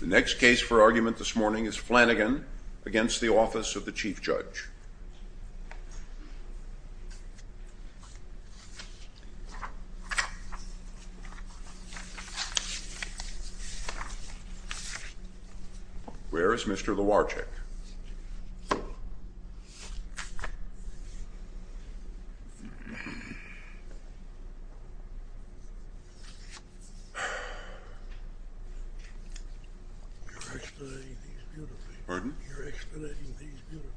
The next case for argument this morning is Flanagan v. Office of the Chief Judge. Where is Mr. Lowarchik? You're explaining things beautifully. Pardon? You're explaining things beautifully.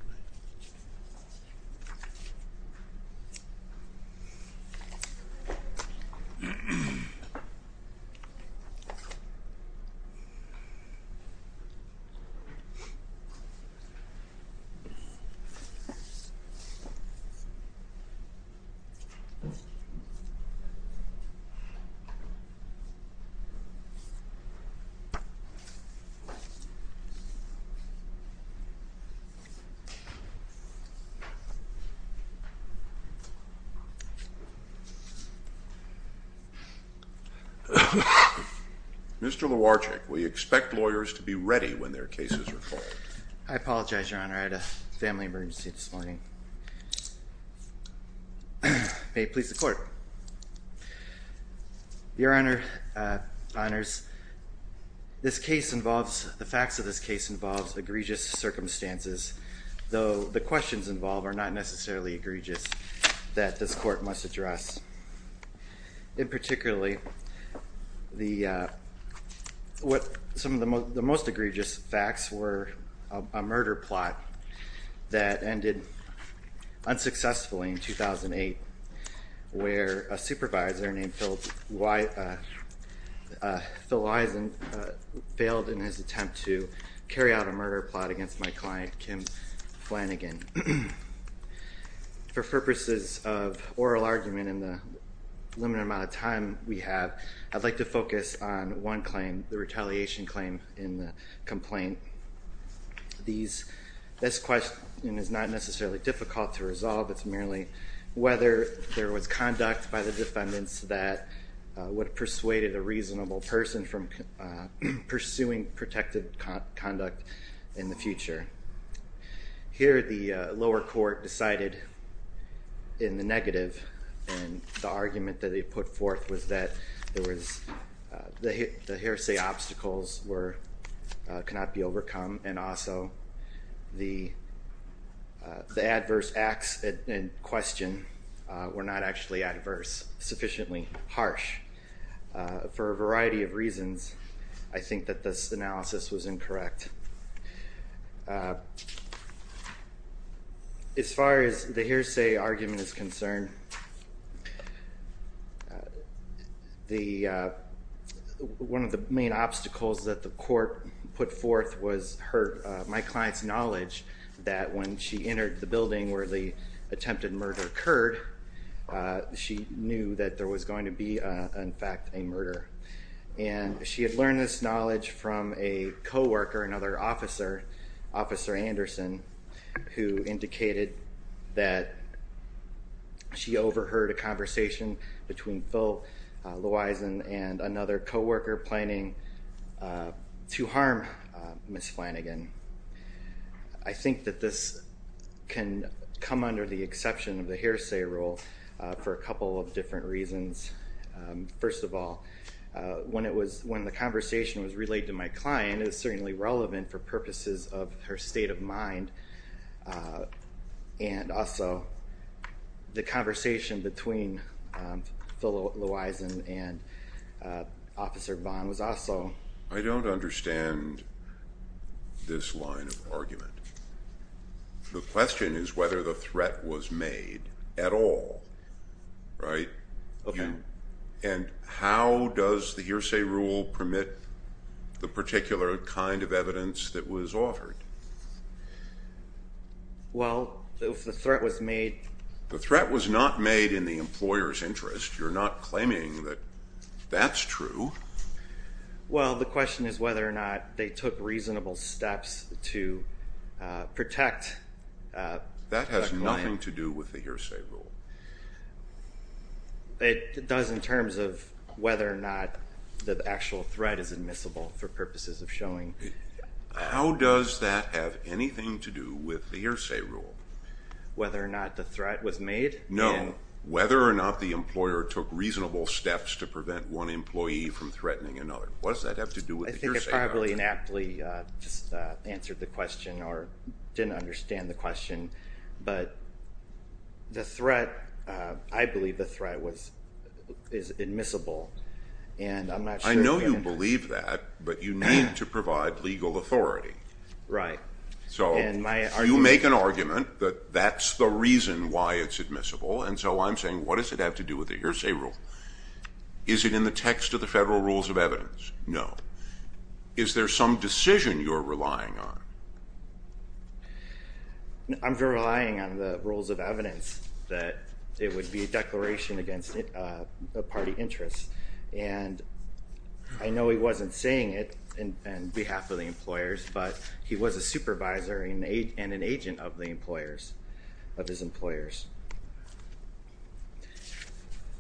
Mr. Lowarchik, we expect lawyers to be ready when their cases are called. I apologize, Your Honor. I had a family emergency this morning. Your Honor, the facts of this case involve egregious circumstances, though the questions involved are not necessarily egregious that this court must address. In particular, the most egregious facts were a murder plot that ended unsuccessfully in 2008, where a supervisor named Phil Eisen failed in his attempt to carry out a murder plot against my client, Kim Flanagan. For purposes of oral argument in the limited amount of time we have, I'd like to focus on one claim, the retaliation claim in the complaint. This question is not necessarily difficult to resolve. It's merely whether there was conduct by the defendants that would have persuaded a reasonable person from pursuing protective conduct in the future. Here, the lower court decided in the negative, and the argument that they put forth was that the hearsay obstacles cannot be overcome, and also the adverse acts in question were not actually adverse, sufficiently harsh. For a variety of reasons, I think that this analysis was incorrect. As far as the hearsay argument is concerned, one of the main obstacles that the court put forth was my client's knowledge that when she entered the building where the attempted murder occurred, she knew that there was going to be, in fact, a murder. She had learned this knowledge from a co-worker, another officer, Officer Anderson, who indicated that she overheard a conversation between Phil Lewisen and another co-worker planning to harm Ms. Flanagan. I think that this can come under the exception of the hearsay rule for a couple of different reasons. First of all, when the conversation was relayed to my client, it was certainly relevant for purposes of her state of mind, and also the conversation between Phil Lewisen and Officer Vaughn was also— I don't understand this line of argument. The question is whether the threat was made at all, right? Okay. And how does the hearsay rule permit the particular kind of evidence that was offered? Well, if the threat was made— The threat was not made in the employer's interest. You're not claiming that that's true. Well, the question is whether or not they took reasonable steps to protect the client. That has nothing to do with the hearsay rule. It does in terms of whether or not the actual threat is admissible for purposes of showing— How does that have anything to do with the hearsay rule? Whether or not the threat was made? No. Whether or not the employer took reasonable steps to prevent one employee from threatening another. What does that have to do with the hearsay rule? I think I probably inaptly just answered the question or didn't understand the question, but the threat—I believe the threat is admissible, and I'm not sure— I know you believe that, but you need to provide legal authority. Right. So you make an argument that that's the reason why it's admissible, and so I'm saying what does it have to do with the hearsay rule? Is it in the text of the federal rules of evidence? No. Is there some decision you're relying on? I'm relying on the rules of evidence that it would be a declaration against a party interest, and I know he wasn't saying it on behalf of the employers, but he was a supervisor and an agent of the employers, of his employers.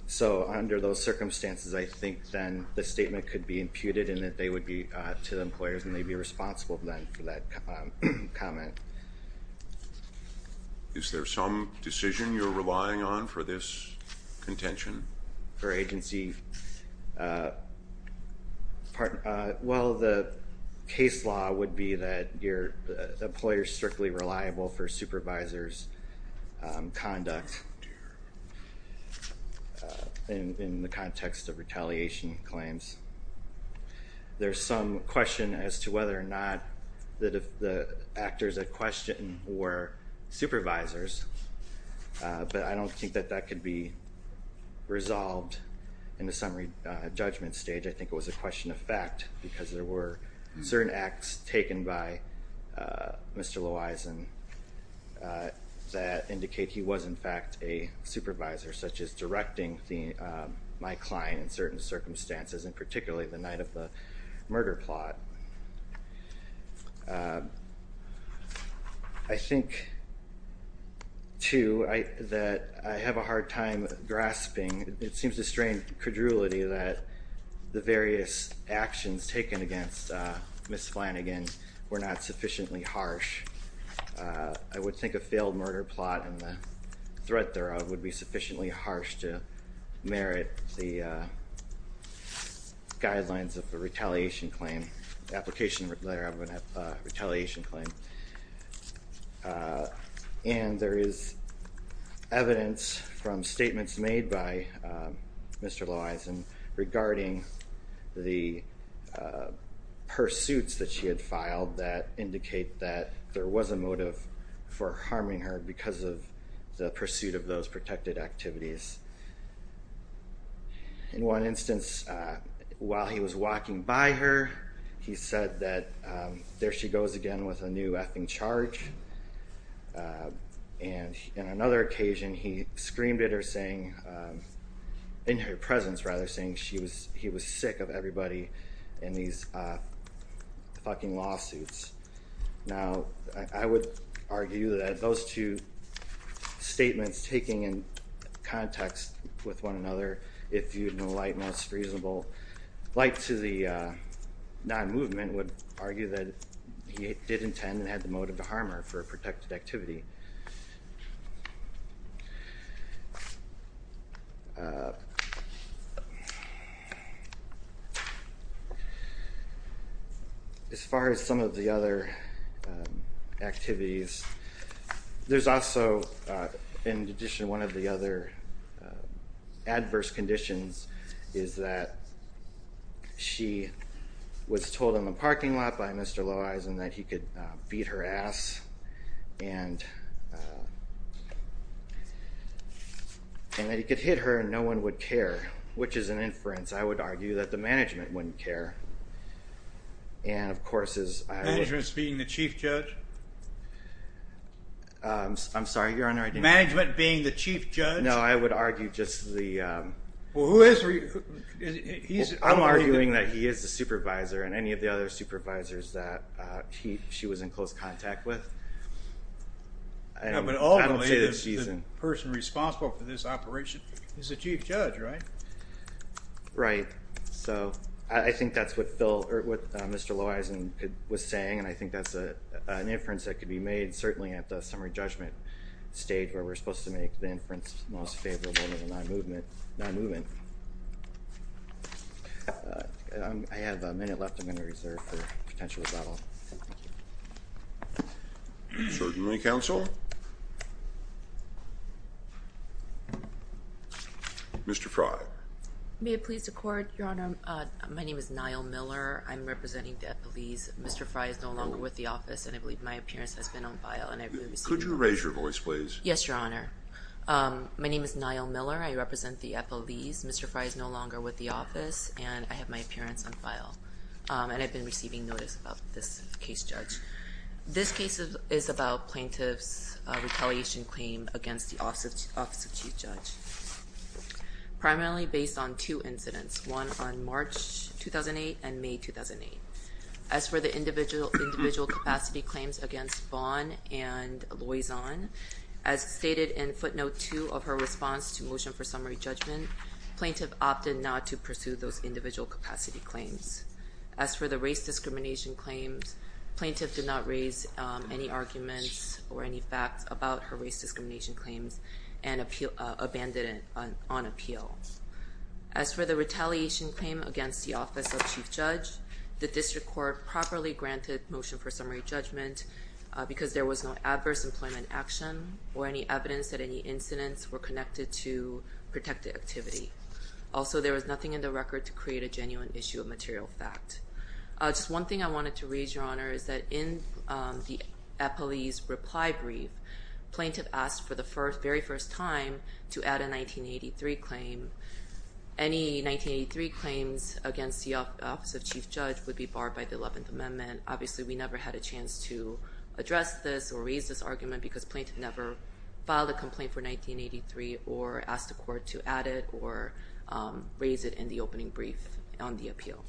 So under those circumstances, I think then the statement could be imputed and that they would be to the employers and they'd be responsible then for that comment. Is there some decision you're relying on for this contention? For agency—well, the case law would be that employers are strictly reliable for supervisors' conduct in the context of retaliation claims. There's some question as to whether or not the actors at question were supervisors, but I don't think that that could be resolved in the summary judgment stage. I think it was a question of fact, because there were certain acts taken by Mr. Lowison that indicate he was in fact a supervisor, such as directing my client in certain circumstances, and particularly the night of the murder plot. I think, too, that I have a hard time grasping—it seems a strange credulity that the various actions taken against Ms. Flanagan were not sufficiently harsh. I would think a failed murder plot and the threat thereof would be sufficiently harsh to merit the guidelines of a retaliation claim, application letter of a retaliation claim. And there is evidence from statements made by Mr. Lowison regarding the pursuits that she had filed that indicate that there was a motive for harming her because of the pursuit of those protected activities. In one instance, while he was walking by her, he said that there she goes again with a new effing charge, and in another occasion he screamed at her saying—in her presence, rather—saying he was sick of everybody and these fucking lawsuits. Now, I would argue that those two statements taking in context with one another, if viewed in the light, most reasonable light to the non-movement, would argue that he did intend and had the motive to harm her for a protected activity. As far as some of the other activities, there's also—in addition, one of the other adverse conditions is that she was told in the parking lot by Mr. Lowison that he could beat her ass, and that he could hit her and no one would care, which is an inference, I would argue, that the management wouldn't care. And, of course, as I— Management's being the chief judge? I'm sorry, Your Honor, I didn't— Management being the chief judge? No, I would argue just the— Well, who is he? I'm arguing that he is the supervisor and any of the other supervisors that she was in close contact with. But ultimately, the person responsible for this operation is the chief judge, right? Right. So, I think that's what Phil—or what Mr. Lowison was saying, and I think that's an inference that could be made, certainly at the summary judgment stage, where we're supposed to make the inference most favorable to the non-movement. I have a minute left. I'm going to reserve for potential rebuttal. Certainly, counsel. Mr. Fry. May it please the Court, Your Honor? My name is Niall Miller. I'm representing the FLEs. Mr. Fry is no longer with the office, and I believe my appearance has been on file. Could you raise your voice, please? Yes, Your Honor. My name is Niall Miller. I represent the FLEs. Mr. Fry is no longer with the office, and I have my appearance on file. And I've been receiving notice about this case, Judge. This case is about plaintiff's retaliation claim against the Office of Chief Judge. Primarily based on two incidents, one on March 2008 and May 2008. As for the individual capacity claims against Vaughn and Lowison, as stated in footnote 2 of her response to motion for summary judgment, plaintiff opted not to pursue those individual capacity claims. As for the race discrimination claims, plaintiff did not raise any arguments or any facts about her race discrimination claims and abandoned it on appeal. As for the retaliation claim against the Office of Chief Judge, the district court properly granted motion for summary judgment because there was no adverse employment action or any evidence that any incidents were connected to protected activity. Also, there was nothing in the record to create a genuine issue of material fact. Just one thing I wanted to raise, Your Honor, is that in the FLEs reply brief, plaintiff asked for the very first time to add a 1983 claim. Any 1983 claims against the Office of Chief Judge would be barred by the 11th Amendment. Obviously, we never had a chance to address this or raise this argument because plaintiff never filed a complaint for 1983 or asked the court to add it or raise it in the opening brief on the appeal.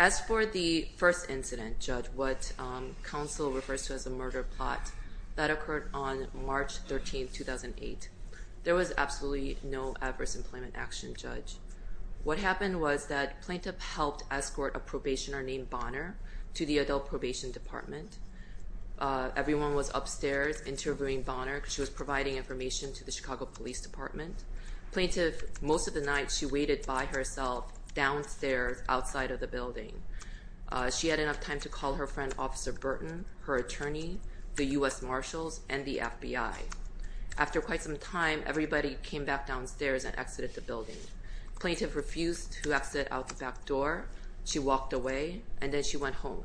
As for the first incident, Judge, what counsel refers to as a murder plot, that occurred on March 13, 2008. There was absolutely no adverse employment action, Judge. What happened was that plaintiff helped escort a probationer named Bonner to the adult probation department. Everyone was upstairs interviewing Bonner. She was providing information to the Chicago Police Department. Plaintiff, most of the night, she waited by herself downstairs outside of the building. She had enough time to call her friend, Officer Burton, her attorney, the U.S. Marshals, and the FBI. After quite some time, everybody came back downstairs and exited the building. Plaintiff refused to exit out the back door. She walked away, and then she went home.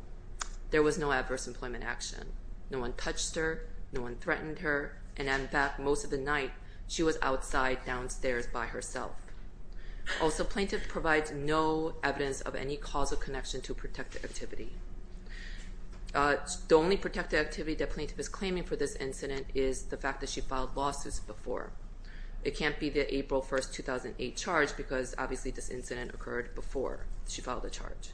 There was no adverse employment action. No one touched her. No one threatened her. And, in fact, most of the night, she was outside downstairs by herself. Also, plaintiff provides no evidence of any causal connection to protected activity. The only protected activity that plaintiff is claiming for this incident is the fact that she filed lawsuits before. It can't be the April 1, 2008 charge because, obviously, this incident occurred before she filed the charge.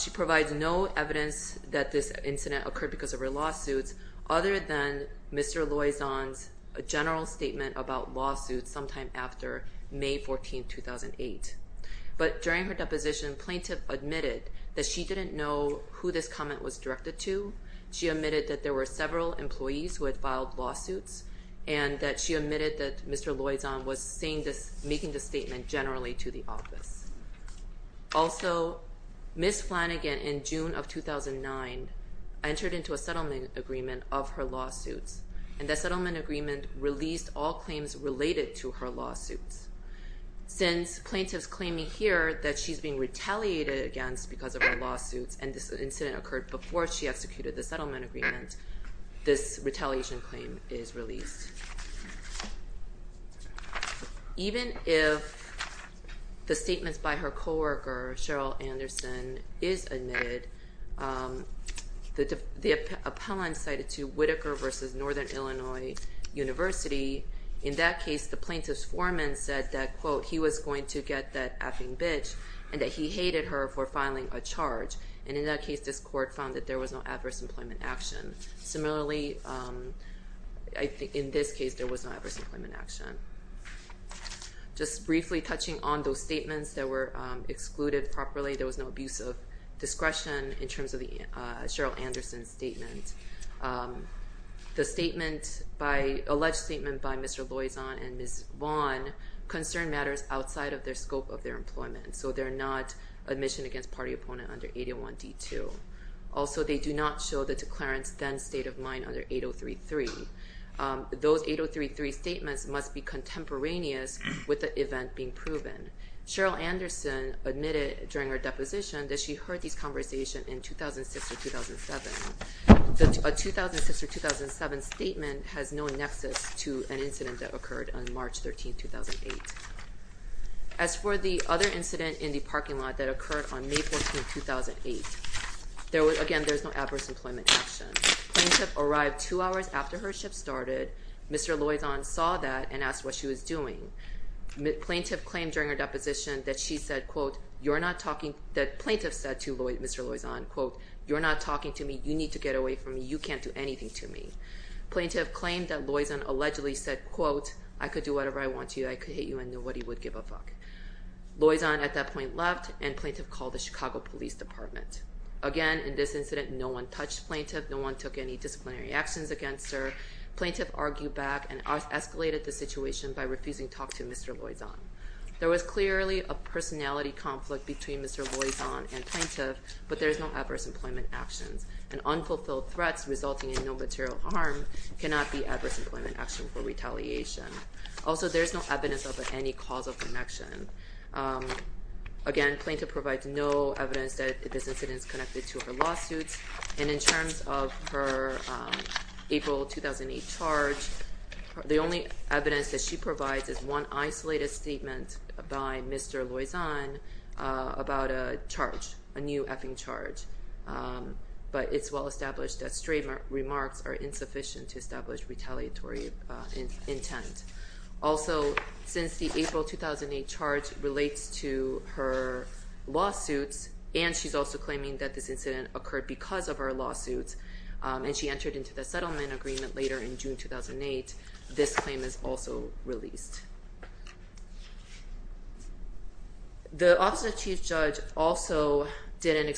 She provides no evidence that this incident occurred because of her lawsuits, other than Mr. Loizon's general statement about lawsuits sometime after May 14, 2008. But during her deposition, plaintiff admitted that she didn't know who this comment was directed to. She admitted that there were several employees who had filed lawsuits, and that she admitted that Mr. Loizon was making this statement generally to the office. Also, Ms. Flanagan, in June of 2009, entered into a settlement agreement of her lawsuits, and that settlement agreement released all claims related to her lawsuits. Since plaintiff's claiming here that she's being retaliated against because of her lawsuits and this incident occurred before she executed the settlement agreement, this retaliation claim is released. Even if the statements by her co-worker, Cheryl Anderson, is admitted, the appellant cited to Whitaker v. Northern Illinois University, in that case, the plaintiff's foreman said that, quote, he was going to get that effing bitch and that he hated her for filing a charge. And in that case, this court found that there was no adverse employment action. Similarly, in this case, there was no adverse employment action. Just briefly touching on those statements that were excluded properly, there was no abuse of discretion in terms of Cheryl Anderson's statement. The alleged statement by Mr. Loizon and Ms. Vaughn concerned matters outside of the scope of their employment, so they're not admission against party opponent under 801 D2. Also, they do not show the declarant's then state of mind under 803-3. Those 803-3 statements must be contemporaneous with the event being proven. Cheryl Anderson admitted during her deposition that she heard these conversations in 2006 or 2007. A 2006 or 2007 statement has no nexus to an incident that occurred on March 13, 2008. As for the other incident in the parking lot that occurred on May 14, 2008, again, there was no adverse employment action. Plaintiff arrived two hours after her shift started. Mr. Loizon saw that and asked what she was doing. Plaintiff claimed during her deposition that she said, quote, that plaintiff said to Mr. Loizon, quote, you're not talking to me. You need to get away from me. You can't do anything to me. Plaintiff claimed that Loizon allegedly said, quote, I could do whatever I want to you. I could hate you and nobody would give a fuck. Loizon at that point left and plaintiff called the Chicago Police Department. Again, in this incident, no one touched plaintiff. No one took any disciplinary actions against her. Plaintiff argued back and escalated the situation by refusing to talk to Mr. Loizon. There was clearly a personality conflict between Mr. Loizon and plaintiff, but there is no adverse employment actions. And unfulfilled threats resulting in no material harm cannot be adverse employment action for retaliation. Also, there is no evidence of any causal connection. Again, plaintiff provides no evidence that this incident is connected to her lawsuits. And in terms of her April 2008 charge, the only evidence that she provides is one isolated statement by Mr. Loizon about a charge, a new effing charge. But it's well established that straight remarks are insufficient to establish retaliatory intent. Also, since the April 2008 charge relates to her lawsuits, and she's also claiming that this incident occurred because of her lawsuits, and she entered into the settlement agreement later in June 2008, this claim is also released. The Office of Chief Judge also did an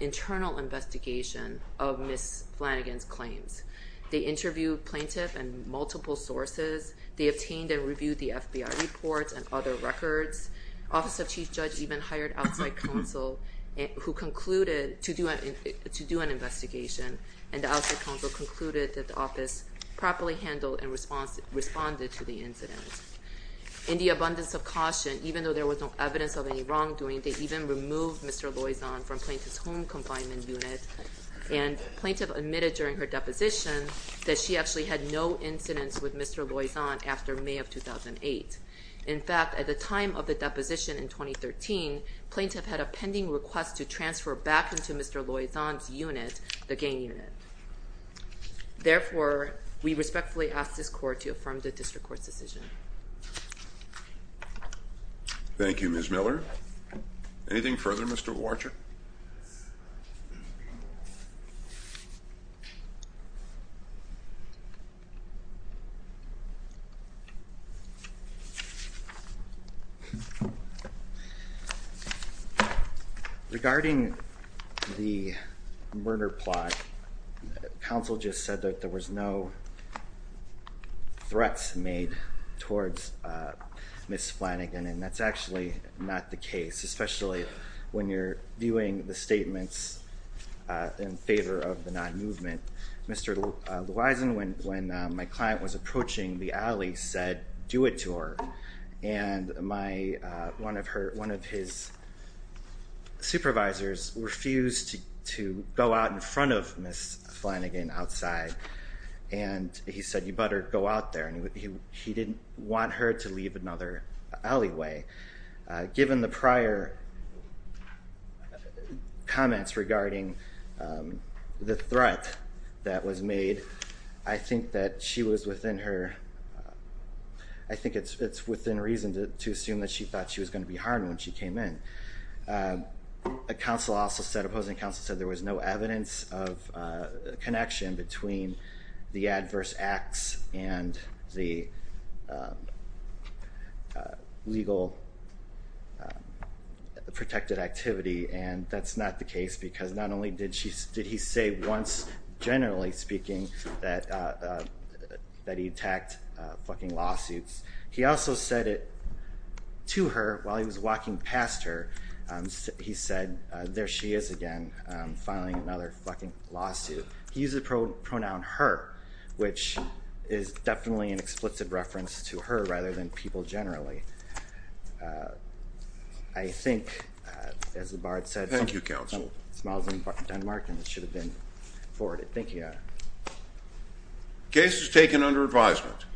internal investigation of Ms. Flanagan's claims. They interviewed plaintiff and multiple sources. They obtained and reviewed the FBI reports and other records. Office of Chief Judge even hired outside counsel to do an investigation, and the outside counsel concluded that the office properly handled and responded to the incident. In the abundance of caution, even though there was no evidence of any wrongdoing, they even removed Mr. Loizon from plaintiff's home confinement unit, and plaintiff admitted during her deposition that she actually had no incidents with Mr. Loizon after May of 2008. In fact, at the time of the deposition in 2013, plaintiff had a pending request to transfer back into Mr. Loizon's unit, the GAIN unit. Therefore, we respectfully ask this court to affirm the district court's decision. Thank you, Ms. Miller. Anything further, Mr. Warcher? Yes. Regarding the murder plot, counsel just said that there was no threats made towards Ms. Flanagan, and that's actually not the case, especially when you're viewing the statements in favor of the non-movement. Mr. Loizon, when my client was approaching the alley, said, do it to her, and one of his supervisors refused to go out in front of Ms. Flanagan outside, and he said, you better go out there, and he didn't want her to leave another alleyway. Given the prior comments regarding the threat that was made, I think that she was within her, I think it's within reason to assume that she thought she was going to be harmed when she came in. Counsel also said, opposing counsel said, there was no evidence of connection between the adverse acts and the legal protected activity, and that's not the case, because not only did he say once, generally speaking, that he attacked fucking lawsuits, he also said it to her while he was walking past her, he said, there she is again, filing another fucking lawsuit. He used the pronoun her, which is definitely an expletive reference to her rather than people generally. I think, as the Bard said, Thank you, counsel. Smiles in Denmark, and it should have been forwarded. Thank you. Case is taken under advisement.